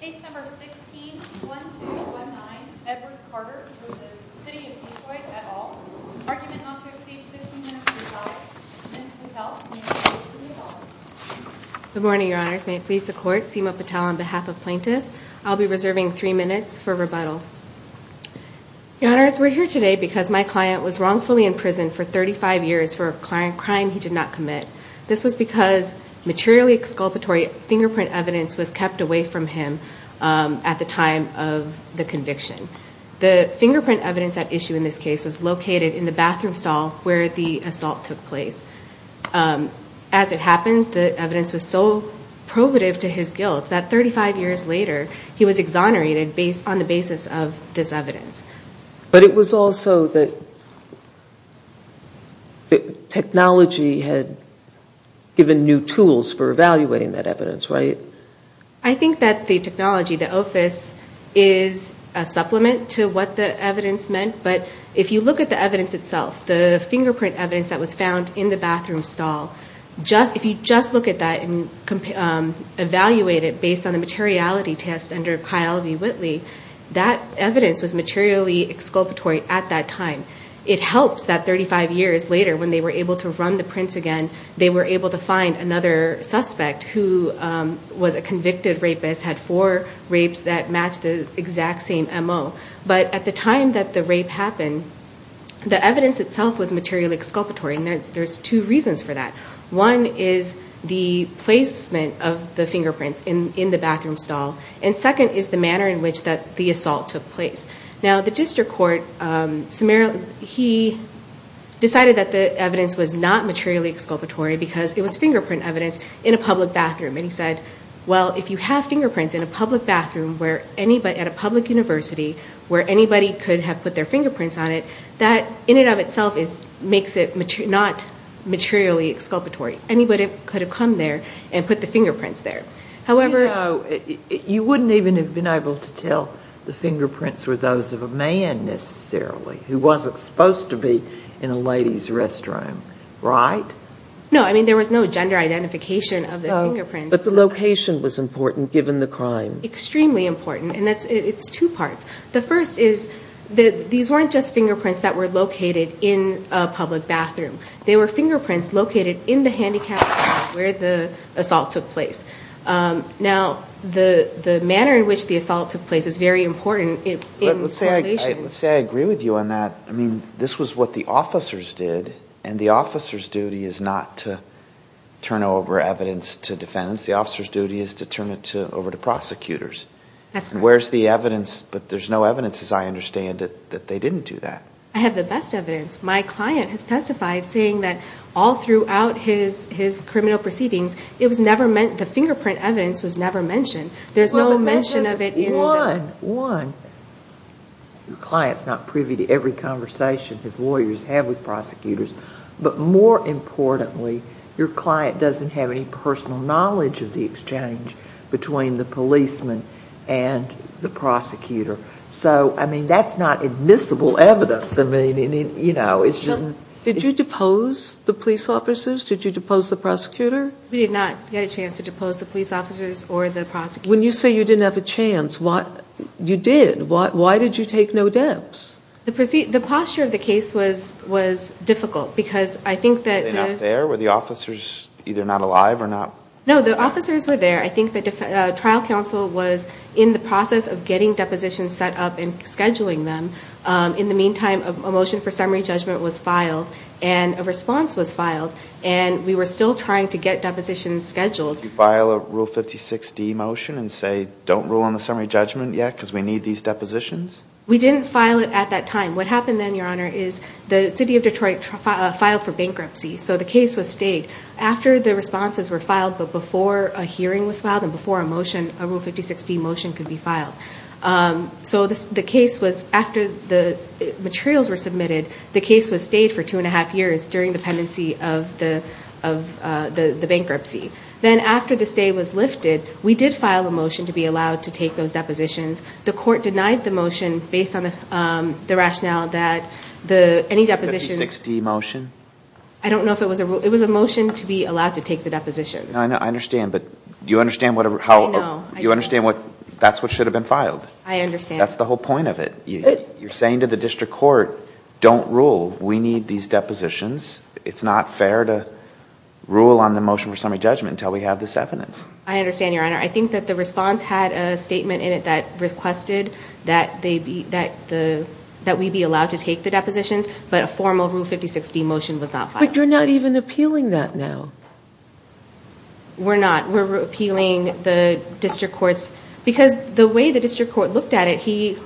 Case number 16-1219, Edward Carter v. City of Detroit, et al. Argument not to receive 15 minutes of your time. Ms. Patel, you may begin. Good morning, Your Honors. May it please the Court, Seema Patel on behalf of Plaintiff. I'll be reserving three minutes for rebuttal. Your Honors, we're here today because my client was wrongfully imprisoned for 35 years for a crime he did not commit. This was because materially exculpatory fingerprint evidence was kept away from him at the time of the conviction. The fingerprint evidence at issue in this case was located in the bathroom stall where the assault took place. As it happens, the evidence was so probative to his guilt that 35 years later he was exonerated on the basis of this evidence. But it was also that technology had given new tools for evaluating that evidence, right? I think that the technology, the OFIS, is a supplement to what the evidence meant. But if you look at the evidence itself, the fingerprint evidence that was found in the bathroom stall, if you just look at that and evaluate it based on the materiality test under Kyle V. Whitley, that evidence was materially exculpatory at that time. It helps that 35 years later when they were able to run the prints again, they were able to find another suspect who was a convicted rapist, had four rapes that matched the exact same MO. But at the time that the rape happened, the evidence itself was materially exculpatory. And there's two reasons for that. One is the placement of the fingerprints in the bathroom stall. And second is the manner in which the assault took place. Now, the district court, he decided that the evidence was not materially exculpatory because it was fingerprint evidence in a public bathroom. And he said, well, if you have fingerprints in a public bathroom at a public university where anybody could have put their fingerprints on it, that in and of itself makes it not materially exculpatory. Anybody could have come there and put the fingerprints there. You know, you wouldn't even have been able to tell the fingerprints were those of a man necessarily who wasn't supposed to be in a lady's restroom, right? No, I mean there was no gender identification of the fingerprints. But the location was important given the crime. Extremely important. And it's two parts. The first is these weren't just fingerprints that were located in a public bathroom. They were fingerprints located in the handicapped area where the assault took place. Now, the manner in which the assault took place is very important in correlation. Let's say I agree with you on that. I mean, this was what the officers did. And the officer's duty is not to turn over evidence to defense. The officer's duty is to turn it over to prosecutors. That's correct. Where's the evidence? But there's no evidence, as I understand it, that they didn't do that. I have the best evidence. My client has testified saying that all throughout his criminal proceedings, the fingerprint evidence was never mentioned. There's no mention of it in the... One, your client's not privy to every conversation his lawyers have with prosecutors. But more importantly, your client doesn't have any personal knowledge of the exchange between the policeman and the prosecutor. So, I mean, that's not admissible evidence. I mean, you know, it's just... Did you depose the police officers? Did you depose the prosecutor? We did not get a chance to depose the police officers or the prosecutor. When you say you didn't have a chance, you did. Why did you take no deaths? The posture of the case was difficult because I think that... Were they not there? Were the officers either not alive or not... No, the officers were there. I think the trial counsel was in the process of getting depositions set up and scheduling them. In the meantime, a motion for summary judgment was filed and a response was filed, and we were still trying to get depositions scheduled. Did you file a Rule 56D motion and say, don't rule on the summary judgment yet because we need these depositions? We didn't file it at that time. What happened then, Your Honor, is the city of Detroit filed for bankruptcy, so the case was stayed. After the responses were filed but before a hearing was filed and before a motion, a Rule 56D motion could be filed. So the case was, after the materials were submitted, the case was stayed for two and a half years during the pendency of the bankruptcy. Then after the stay was lifted, we did file a motion to be allowed to take those depositions. The court denied the motion based on the rationale that any depositions... A Rule 56D motion? I don't know if it was a rule. It was a motion to be allowed to take the depositions. I understand, but do you understand how... I don't know. Do you understand that's what should have been filed? I understand. That's the whole point of it. You're saying to the district court, don't rule. We need these depositions. It's not fair to rule on the motion for summary judgment until we have this evidence. I understand, Your Honor. I think that the response had a statement in it that requested that we be allowed to take the depositions, but a formal Rule 56D motion was not filed. But you're not even appealing that now. We're not. We're appealing the district court's... Because the way the district court looked at it, he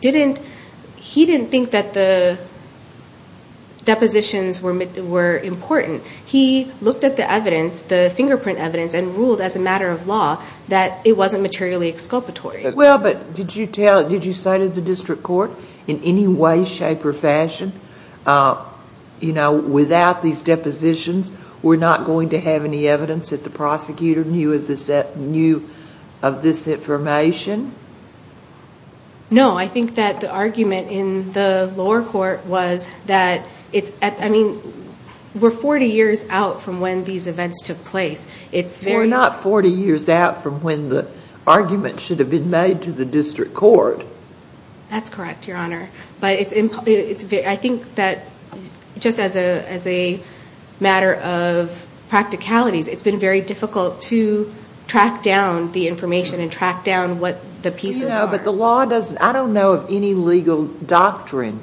didn't think that the depositions were important. He looked at the evidence, the fingerprint evidence, and ruled as a matter of law that it wasn't materially exculpatory. Well, but did you say to the district court in any way, shape, or fashion, without these depositions, we're not going to have any evidence that the prosecutor knew of this information? No. I think that the argument in the lower court was that we're 40 years out from when these events took place. We're not 40 years out from when the argument should have been made to the district court. That's correct, Your Honor. But I think that just as a matter of practicalities, it's been very difficult to track down the information and track down what the pieces are. No, but the law doesn't... I don't know of any legal doctrine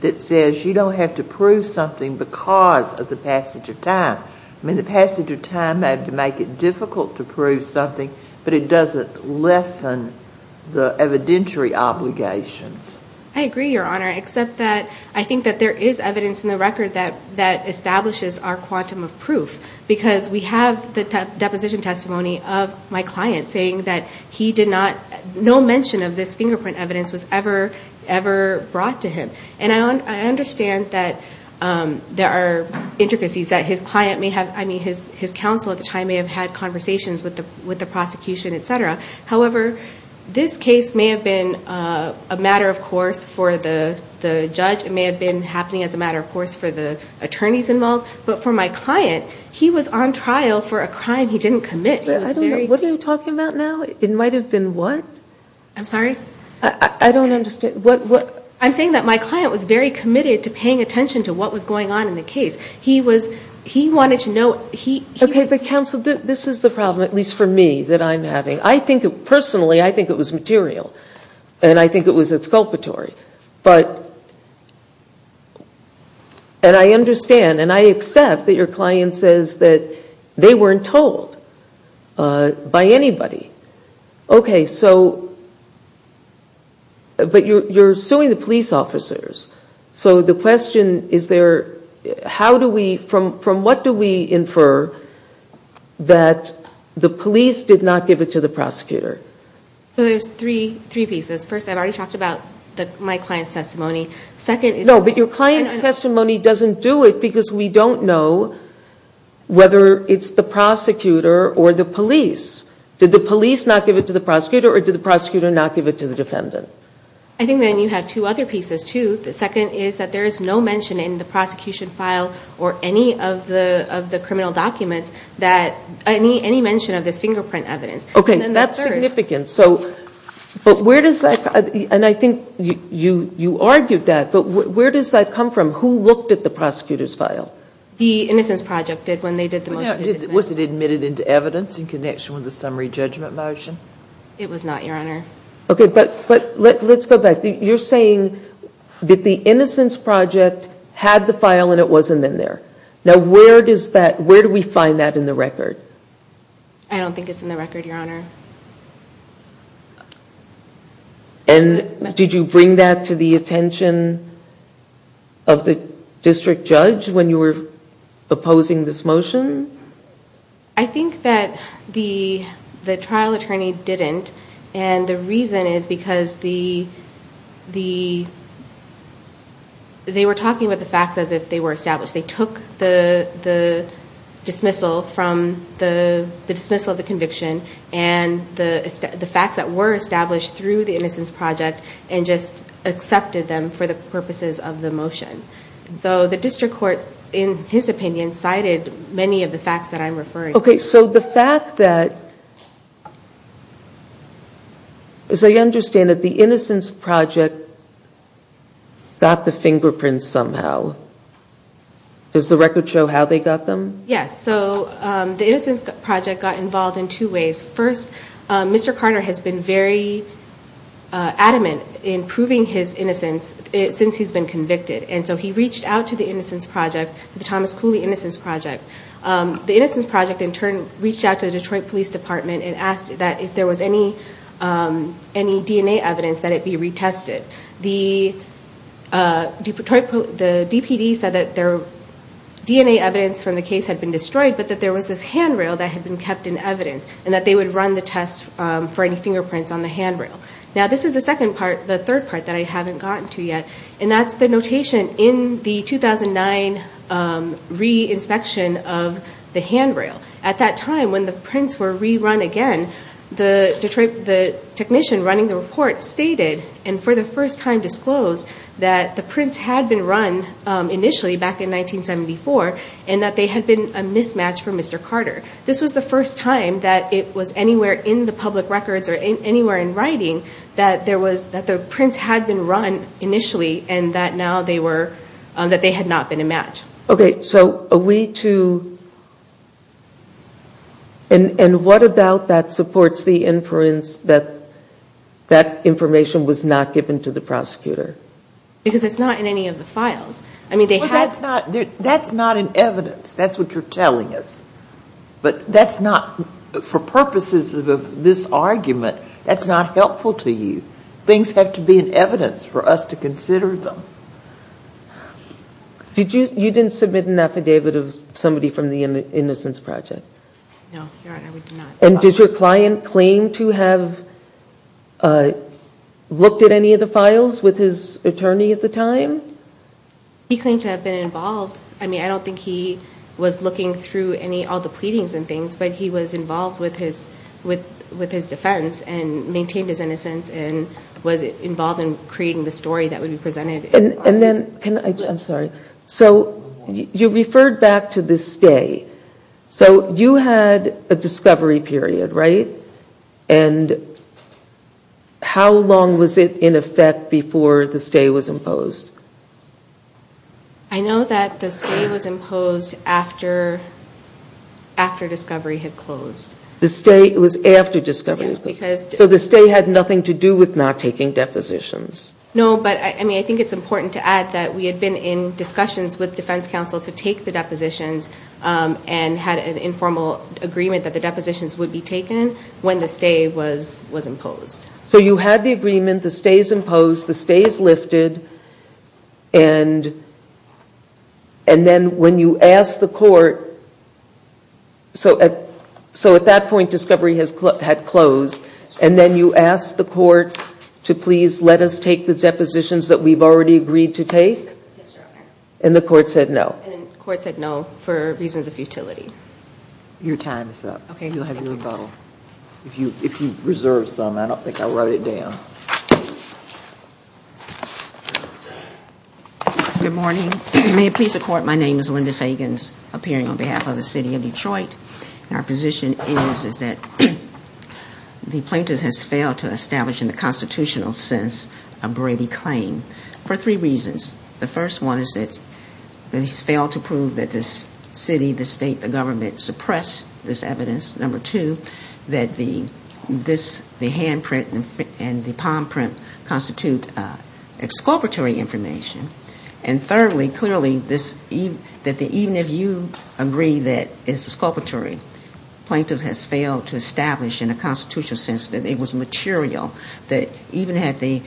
that says you don't have to prove something because of the passage of time. I mean, the passage of time may have to make it difficult to prove something, but it doesn't lessen the evidentiary obligations. I agree, Your Honor, except that I think that there is evidence in the record that establishes our quantum of proof, because we have the deposition testimony of my client saying that he did not... no mention of this fingerprint evidence was ever brought to him. And I understand that there are intricacies that his client may have... I mean, his counsel at the time may have had conversations with the prosecution, et cetera. However, this case may have been a matter, of course, for the judge. It may have been happening as a matter, of course, for the attorneys involved. But for my client, he was on trial for a crime he didn't commit. What are you talking about now? It might have been what? I'm sorry? I don't understand. I'm saying that my client was very committed to paying attention to what was going on in the case. He was... he wanted to know... Okay, but counsel, this is the problem, at least for me, that I'm having. Personally, I think it was material, and I think it was exculpatory. But... And I understand, and I accept that your client says that they weren't told by anybody. Okay, so... But you're suing the police officers. So the question is there, how do we... from what do we infer that the police did not give it to the prosecutor? So there's three pieces. First, I've already talked about my client's testimony. Second is... No, but your client's testimony doesn't do it because we don't know whether it's the prosecutor or the police. Did the police not give it to the prosecutor, or did the prosecutor not give it to the defendant? I think then you have two other pieces, too. The second is that there is no mention in the prosecution file or any of the criminal documents that... any mention of this fingerprint evidence. Okay, so that's significant. But where does that... And I think you argued that, but where does that come from? Who looked at the prosecutor's file? The Innocence Project did when they did the motion to dismiss. Was it admitted into evidence in connection with the summary judgment motion? It was not, Your Honor. Okay, but let's go back. You're saying that the Innocence Project had the file and it wasn't in there. Now, where do we find that in the record? I don't think it's in the record, Your Honor. And did you bring that to the attention of the district judge when you were opposing this motion? I think that the trial attorney didn't, and the reason is because the... They were talking about the facts as if they were established. They took the dismissal from the dismissal of the conviction and the facts that were established through the Innocence Project and just accepted them for the purposes of the motion. So the district court, in his opinion, cited many of the facts that I'm referring to. Okay, so the fact that... As I understand it, the Innocence Project got the fingerprints somehow. Does the record show how they got them? Yes. So the Innocence Project got involved in two ways. First, Mr. Carter has been very adamant in proving his innocence since he's been convicted, and so he reached out to the Innocence Project, the Thomas Cooley Innocence Project. The Innocence Project, in turn, reached out to the Detroit Police Department and asked that if there was any DNA evidence, that it be retested. The DPD said that their DNA evidence from the case had been destroyed, but that there was this handrail that had been kept in evidence and that they would run the test for any fingerprints on the handrail. Now, this is the second part, the third part, that I haven't gotten to yet, and that's the notation in the 2009 re-inspection of the handrail. At that time, when the prints were rerun again, the technician running the report stated, and for the first time disclosed, that the prints had been run initially back in 1974 and that they had been a mismatch for Mr. Carter. This was the first time that it was anywhere in the public records or anywhere in writing that the prints had been run initially and that they had not been a match. Okay, so are we to, and what about that supports the inference that that information was not given to the prosecutor? Because it's not in any of the files. That's not in evidence, that's what you're telling us. But that's not, for purposes of this argument, that's not helpful to you. Things have to be in evidence for us to consider them. You didn't submit an affidavit of somebody from the Innocence Project? No, Your Honor, we did not. And did your client claim to have looked at any of the files with his attorney at the time? He claimed to have been involved. I mean, I don't think he was looking through all the pleadings and things, but he was involved with his defense and maintained his innocence and was involved in creating the story that would be presented. And then, I'm sorry, so you referred back to the stay. So you had a discovery period, right? And how long was it in effect before the stay was imposed? I know that the stay was imposed after discovery had closed. The stay was after discovery had closed. Yes, because So the stay had nothing to do with not taking depositions. No, but, I mean, I think it's important to add that we had been in discussions with defense counsel to take the depositions and had an informal agreement that the depositions would be taken when the stay was imposed. So you had the agreement, the stay is imposed, the stay is lifted, and then when you asked the court, so at that point discovery had closed, and then you asked the court to please let us take the depositions that we've already agreed to take? Yes, Your Honor. And the court said no. And the court said no for reasons of futility. Your time is up. Okay. You'll have your rebuttal. If you reserve some, I don't think I'll write it down. Good morning. May it please the court, my name is Linda Fagans, appearing on behalf of the city of Detroit. Our position is that the plaintiff has failed to establish in the constitutional sense a Brady claim for three reasons. The first one is that he's failed to prove that this city, the state, the government suppressed this evidence. Number two, that the handprint and the palm print constitute exculpatory information. And thirdly, clearly, that even if you agree that it's exculpatory, the plaintiff has failed to establish in a constitutional sense that it was material, that even if the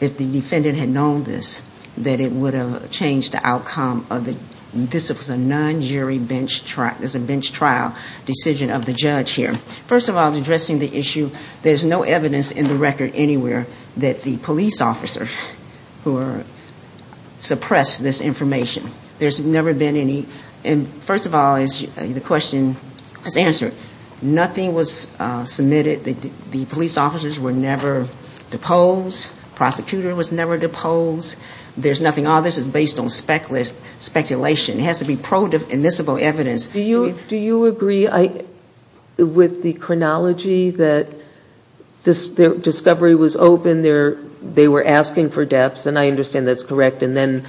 defendant had known this, that it would have changed the outcome. This is a non-jury bench trial decision of the judge here. First of all, addressing the issue, there's no evidence in the record anywhere that the police officers who suppressed this information. There's never been any. First of all, the question is answered. Nothing was submitted. The police officers were never deposed. Prosecutor was never deposed. There's nothing. All this is based on speculation. It has to be pro-admissible evidence. Do you agree with the chronology that discovery was open, they were asking for depths, and I understand that's correct, and then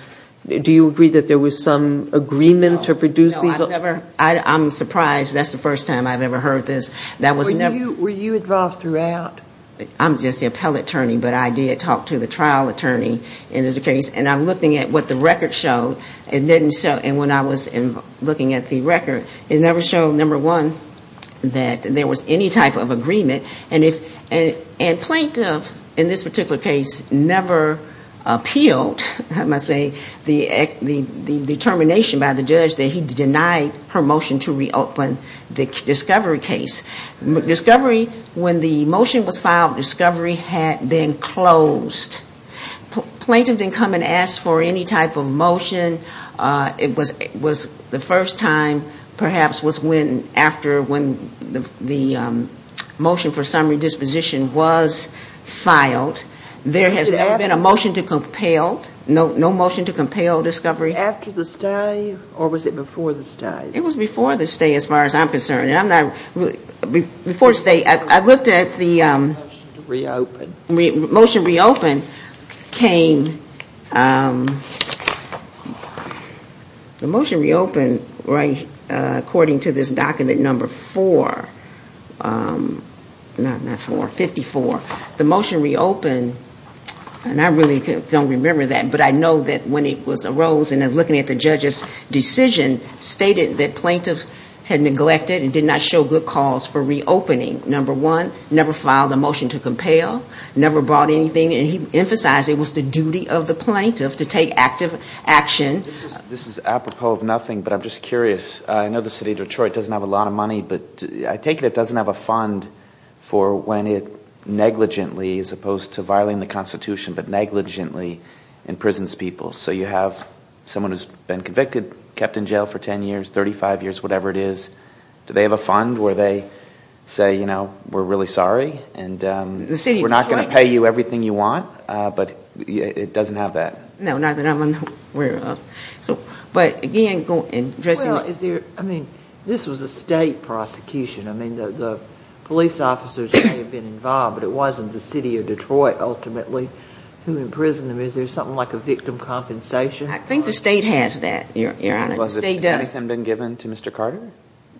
do you agree that there was some agreement to produce these? No, I've never. I'm surprised. That's the first time I've ever heard this. Were you involved throughout? I'm just the appellate attorney, but I did talk to the trial attorney in this case, and I'm looking at what the record showed, and when I was looking at the record, it never showed, number one, that there was any type of agreement, and plaintiff, in this particular case, never appealed, I must say, the determination by the judge that he denied her motion to reopen the discovery case. Discovery, when the motion was filed, discovery had been closed. Plaintiff didn't come and ask for any type of motion. It was the first time, perhaps, was when the motion for summary disposition was filed. There has never been a motion to compel, no motion to compel discovery. After the stay, or was it before the stay? It was before the stay as far as I'm concerned. Before the stay, I looked at the motion to reopen. The motion reopened, according to this document, number four, not four, 54. The motion reopened, and I really don't remember that, but I know that when it arose and looking at the judge's decision, stated that plaintiff had neglected and did not show good cause for reopening. Number one, never filed a motion to compel, never brought anything, and he emphasized it was the duty of the plaintiff to take active action. This is apropos of nothing, but I'm just curious. I know the city of Detroit doesn't have a lot of money, but I take it it doesn't have a fund for when it negligently, as opposed to violating the Constitution, but negligently imprisons people. So you have someone who's been convicted, kept in jail for 10 years, 35 years, whatever it is. Do they have a fund where they say, you know, we're really sorry, and we're not going to pay you everything you want, but it doesn't have that. No, not that I'm aware of. But again, addressing the... Well, is there, I mean, this was a state prosecution. I mean, the police officers may have been involved, but it wasn't the city of Detroit ultimately who imprisoned them. Is there something like a victim compensation? I think the state has that, Your Honor. Has anything been given to Mr. Carter?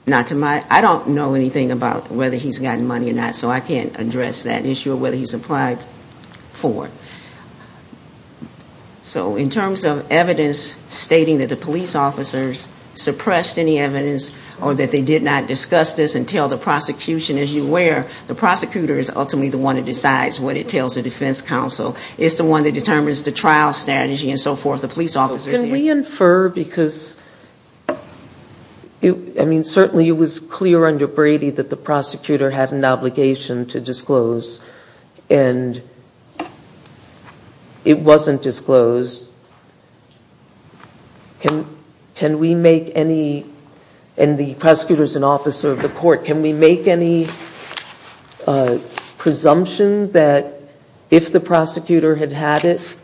Not to my, I don't know anything about whether he's gotten money or not, so I can't address that issue of whether he's applied for it. So in terms of evidence stating that the police officers suppressed any evidence or that they did not discuss this until the prosecution, as you're aware, the prosecutor is ultimately the one that decides what it tells the defense counsel. It's the one that determines the trial strategy and so forth, the police officers. Can we infer, because, I mean, certainly it was clear under Brady that the prosecutor had an obligation to disclose, and it wasn't disclosed. Can we make any, and the prosecutor's an officer of the court, can we make any presumption that if the prosecutor had had it,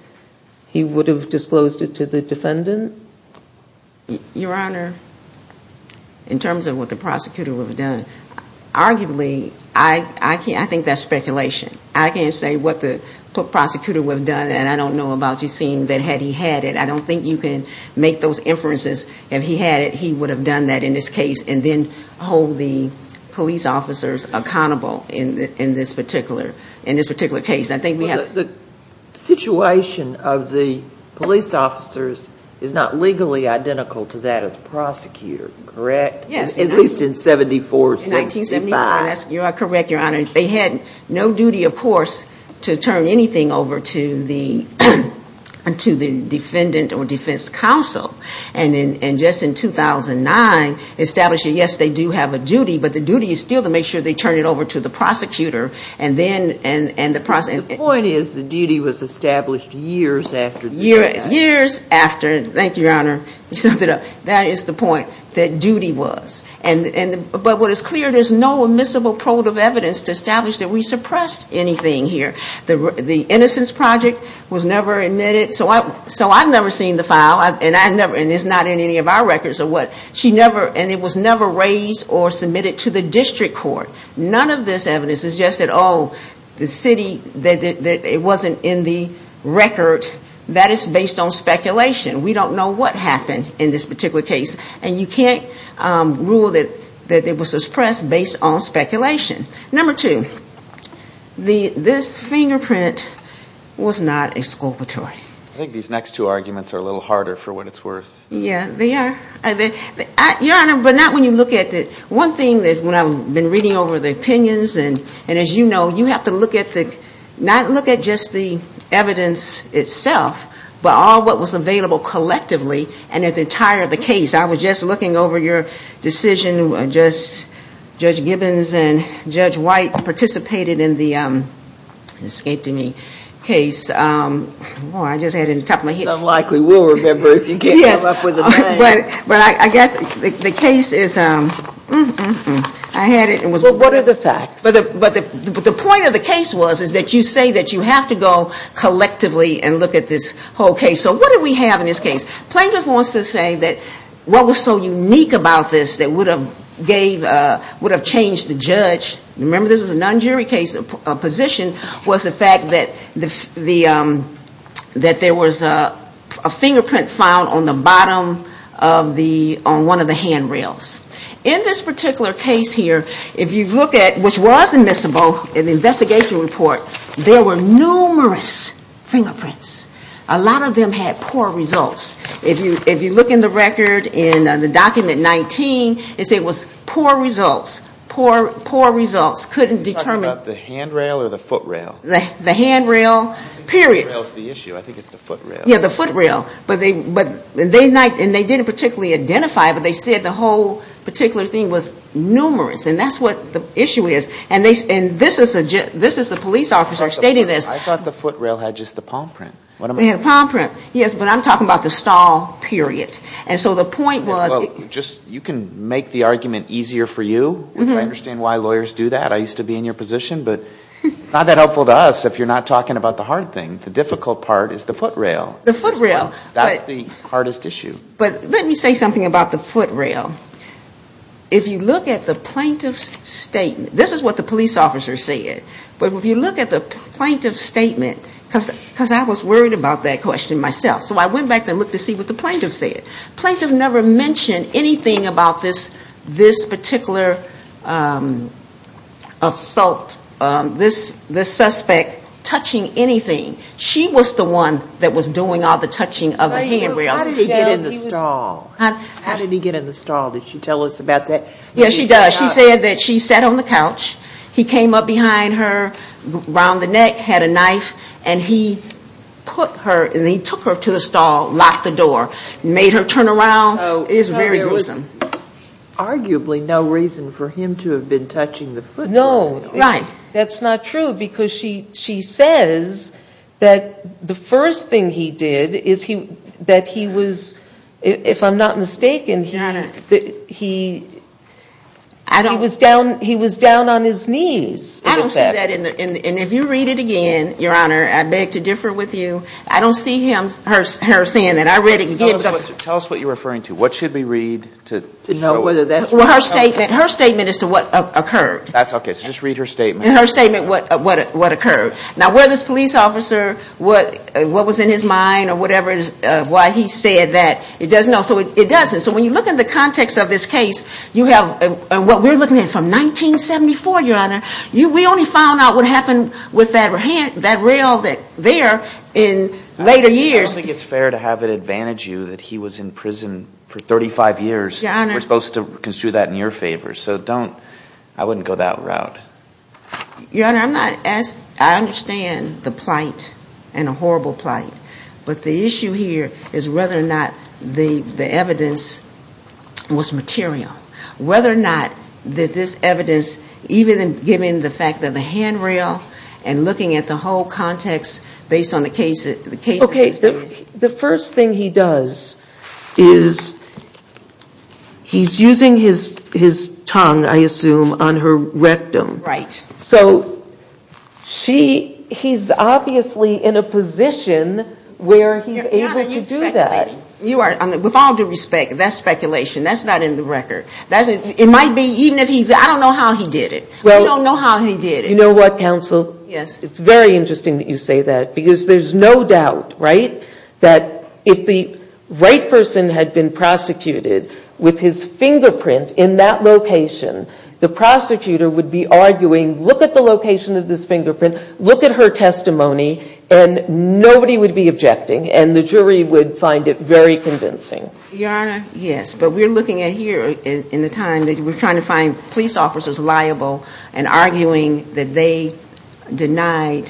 he would have disclosed it to the defendant? Your Honor, in terms of what the prosecutor would have done, arguably, I think that's speculation. I can't say what the prosecutor would have done, and I don't know about you seeing that had he had it. I don't think you can make those inferences. If he had it, he would have done that in this case and then hold the police officers accountable in this particular case. The situation of the police officers is not legally identical to that of the prosecutor, correct? Yes. At least in 74-75. In 1974, you are correct, Your Honor. They had no duty, of course, to turn anything over to the defendant or defense counsel. And just in 2009, establishing, yes, they do have a duty, but the duty is still to make sure they turn it over to the prosecutor. The point is, the duty was established years after. Years after, thank you, Your Honor. That is the point, that duty was. But what is clear, there's no admissible probe of evidence to establish that we suppressed anything here. The innocence project was never admitted, so I've never seen the file, and it's not in any of our records. And it was never raised or submitted to the district court. None of this evidence is just that, oh, the city, it wasn't in the record. That is based on speculation. We don't know what happened in this particular case. And you can't rule that it was suppressed based on speculation. Number two, this fingerprint was not exculpatory. I think these next two arguments are a little harder for what it's worth. Yeah, they are. Your Honor, but not when you look at the one thing that when I've been reading over the opinions, and as you know, you have to look at the, not look at just the evidence itself, but all what was available collectively and the entire of the case. I was just looking over your decision. Judge Gibbons and Judge White participated in the escape to me case. Boy, I just had it on the top of my head. It's unlikely. We'll remember if you can't come up with a name. But I guess the case is, I had it. Well, what are the facts? But the point of the case was is that you say that you have to go collectively and look at this whole case. So what do we have in this case? Plaintiff wants to say that what was so unique about this that would have changed the judge, remember this was a non-jury case, a position, was the fact that there was a fingerprint found on the bottom of the, on one of the handrails. In this particular case here, if you look at, which was admissible in the investigation report, there were numerous fingerprints. A lot of them had poor results. If you look in the record in the document 19, it said it was poor results, poor results, couldn't determine. Are you talking about the handrail or the footrail? The handrail, period. I think the footrail is the issue. I think it's the footrail. Yeah, the footrail. But they, and they didn't particularly identify it, but they said the whole particular thing was numerous. And that's what the issue is. And this is the police officer stating this. I thought the footrail had just the palm print. Palm print, yes, but I'm talking about the stall, period. And so the point was. Just, you can make the argument easier for you. I understand why lawyers do that. I used to be in your position. But it's not that helpful to us if you're not talking about the hard thing. The difficult part is the footrail. The footrail. That's the hardest issue. But let me say something about the footrail. If you look at the plaintiff's statement, this is what the police officer said. But if you look at the plaintiff's statement, because I was worried about that question myself. So I went back and looked to see what the plaintiff said. The plaintiff never mentioned anything about this particular assault. This suspect touching anything. She was the one that was doing all the touching of the handrails. How did he get in the stall? How did he get in the stall? Did she tell us about that? Yes, she does. She said that she sat on the couch. He came up behind her, around the neck, had a knife, and he put her and he took her to the stall, locked the door, made her turn around. It was very gruesome. So there was arguably no reason for him to have been touching the footrail. No. Right. That's not true because she says that the first thing he did is that he was, if I'm not mistaken, he was down on his knees. I don't see that. And if you read it again, Your Honor, I beg to differ with you. I don't see her saying that. Tell us what you're referring to. What should we read to know whether that's true? Her statement as to what occurred. Okay. So just read her statement. Her statement, what occurred. Now, whether it's a police officer, what was in his mind or whatever, why he said that, it doesn't know. So it doesn't. So when you look at the context of this case, you have what we're looking at from 1974, Your Honor. We only found out what happened with that rail there in later years. I don't think it's fair to have it advantage you that he was in prison for 35 years. Your Honor. We're supposed to construe that in your favor. So don't, I wouldn't go that route. Your Honor, I'm not, I understand the plight and the horrible plight. But the issue here is whether or not the evidence was material. Whether or not that this evidence, even given the fact that the handrail and looking at the whole context based on the case. Okay. The first thing he does is he's using his tongue, I assume, on her rectum. Right. So he's obviously in a position where he's able to do that. Your Honor, you're speculating. With all due respect, that's speculation. That's not in the record. It might be, even if he's, I don't know how he did it. I don't know how he did it. You know what, counsel? Yes. It's very interesting that you say that. Because there's no doubt, right, that if the right person had been prosecuted with his fingerprint in that location, the prosecutor would be arguing, look at the location of this fingerprint. Look at her testimony. And nobody would be objecting. And the jury would find it very convincing. Your Honor, yes. But we're looking at here in the time that we're trying to find police officers liable and arguing that they denied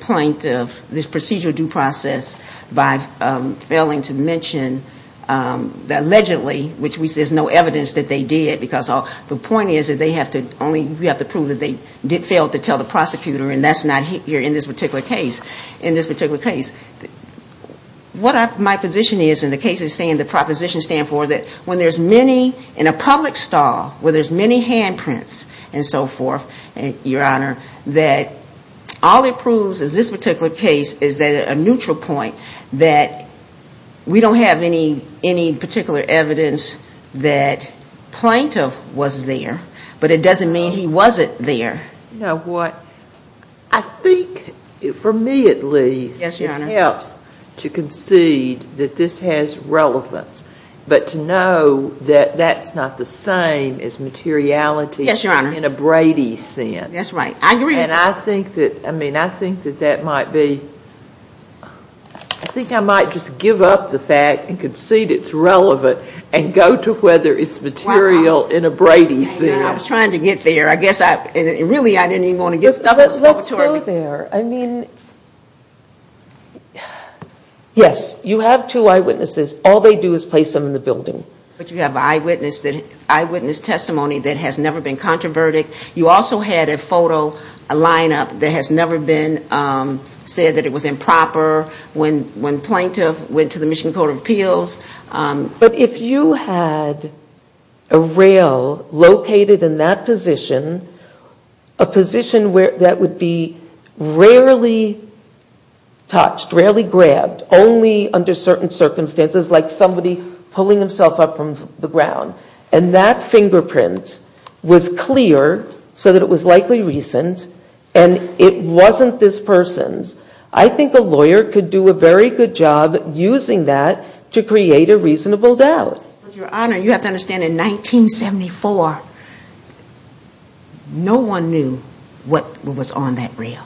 point of this procedural due process by failing to mention that allegedly, which there's no evidence that they did, because the point is that we have to prove that they did fail to tell the prosecutor and that's not here in this particular case. In this particular case, what my position is in the case of saying the proposition stands for that when there's many in a public stall where there's many handprints and so forth, that all it proves in this particular case is that a neutral point, that we don't have any particular evidence that plaintiff was there, but it doesn't mean he wasn't there. You know what? I think, for me at least, it helps to concede that this has relevance. But to know that that's not the same as materiality. Yes, Your Honor. In a Brady sense. That's right. I agree. And I think that, I mean, I think that that might be, I think I might just give up the fact and concede it's relevant and go to whether it's material in a Brady sense. Wow. I was trying to get there. I guess I, really I didn't even want to get stuff out of this laboratory. Let's go there. I mean, yes, you have two eyewitnesses. All they do is place them in the building. But you have eyewitness testimony that has never been controverted. You also had a photo, a lineup, that has never been said that it was improper when plaintiff went to the Michigan Court of Appeals. But if you had a rail located in that position, a position that would be rarely touched, rarely grabbed, only under certain circumstances, like somebody pulling himself up from the ground, and that fingerprint was clear so that it was likely recent and it wasn't this person's, I think a lawyer could do a very good job using that to create a reasonable doubt. But, Your Honor, you have to understand, in 1974, no one knew what was on that rail.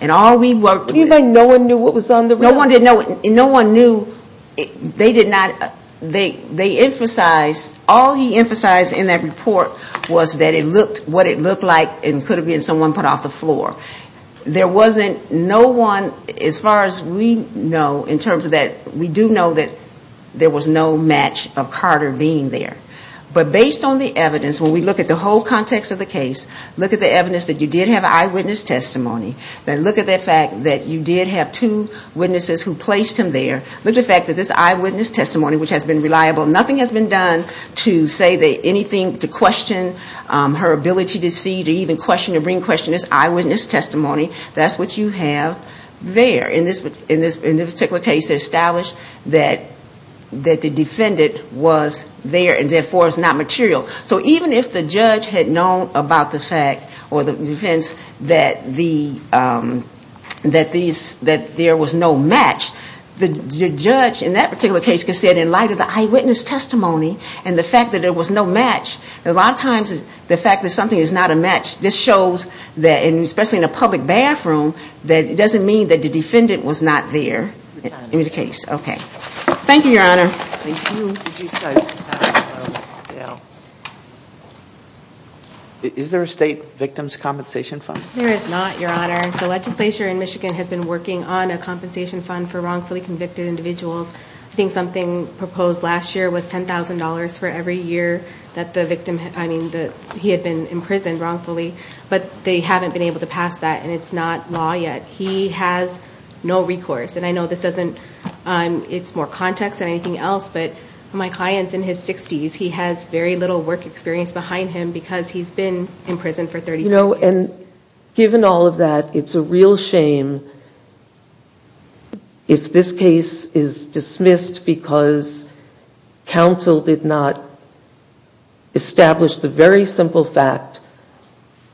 And all we worked with What do you mean no one knew what was on the rail? No one knew. They emphasized, all he emphasized in that report was what it looked like and could have been someone put off the floor. There wasn't no one, as far as we know, in terms of that, we do know that there was no match of Carter being there. But based on the evidence, when we look at the whole context of the case, look at the evidence that you did have eyewitness testimony, then look at the fact that you did have two witnesses who placed him there, look at the fact that this eyewitness testimony, which has been reliable, nothing has been done to say anything to question her ability to see, to even question or bring question to this eyewitness testimony, that's what you have there. In this particular case, they established that the defendant was there and therefore is not material. So even if the judge had known about the fact, or the defense, that there was no match, the judge, in that particular case, could have said in light of the eyewitness testimony and the fact that there was no match, a lot of times the fact that something is not a match, this shows that, especially in a public bathroom, that it doesn't mean that the defendant was not there in the case. Thank you, Your Honor. Thank you. Is there a state victim's compensation fund? There is not, Your Honor. The legislature in Michigan has been working on a compensation fund for wrongfully convicted individuals. I think something proposed last year was $10,000 for every year that the victim, I mean that he had been imprisoned wrongfully, but they haven't been able to pass that, and it's not law yet. He has no recourse. And I know this doesn't, it's more context than anything else, but my client's in his 60s. He has very little work experience behind him because he's been in prison for 30 years. You know, and given all of that, it's a real shame if this case is dismissed because counsel did not establish the very simple fact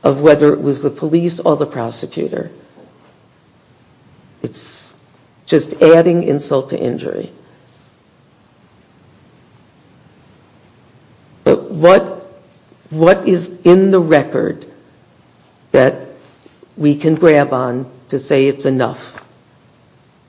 of whether it was the police or the prosecutor. It's just adding insult to injury. But what is in the record that we can grab on to say it's enough?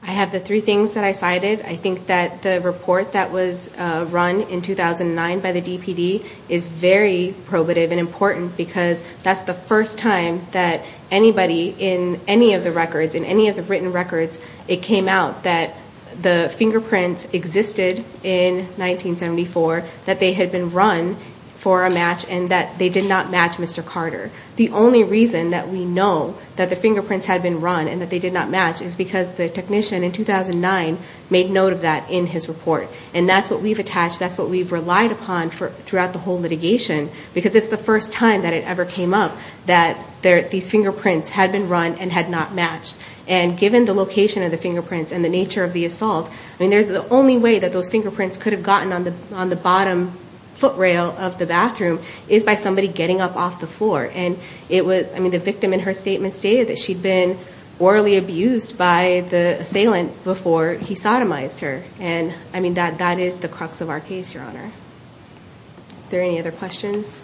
I have the three things that I cited. I think that the report that was run in 2009 by the DPD is very probative and important because that's the first time that anybody in any of the records, in any of the written records, it came out that the fingerprints existed in 1974, that they had been run for a match, and that they did not match Mr. Carter. The only reason that we know that the fingerprints had been run and that they did not match is because the technician in 2009 made note of that in his report. And that's what we've attached, that's what we've relied upon throughout the whole litigation because it's the first time that it ever came up that these fingerprints had been run and had not matched. And given the location of the fingerprints and the nature of the assault, the only way that those fingerprints could have gotten on the bottom foot rail of the bathroom is by somebody getting up off the floor. And the victim in her statement stated that she'd been orally abused by the assailant before he sodomized her. And that is the crux of our case, Your Honor. Are there any other questions?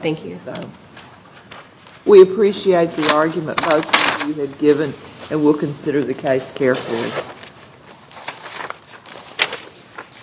Thank you. We appreciate the argument both of you have given, and we'll consider the case carefully.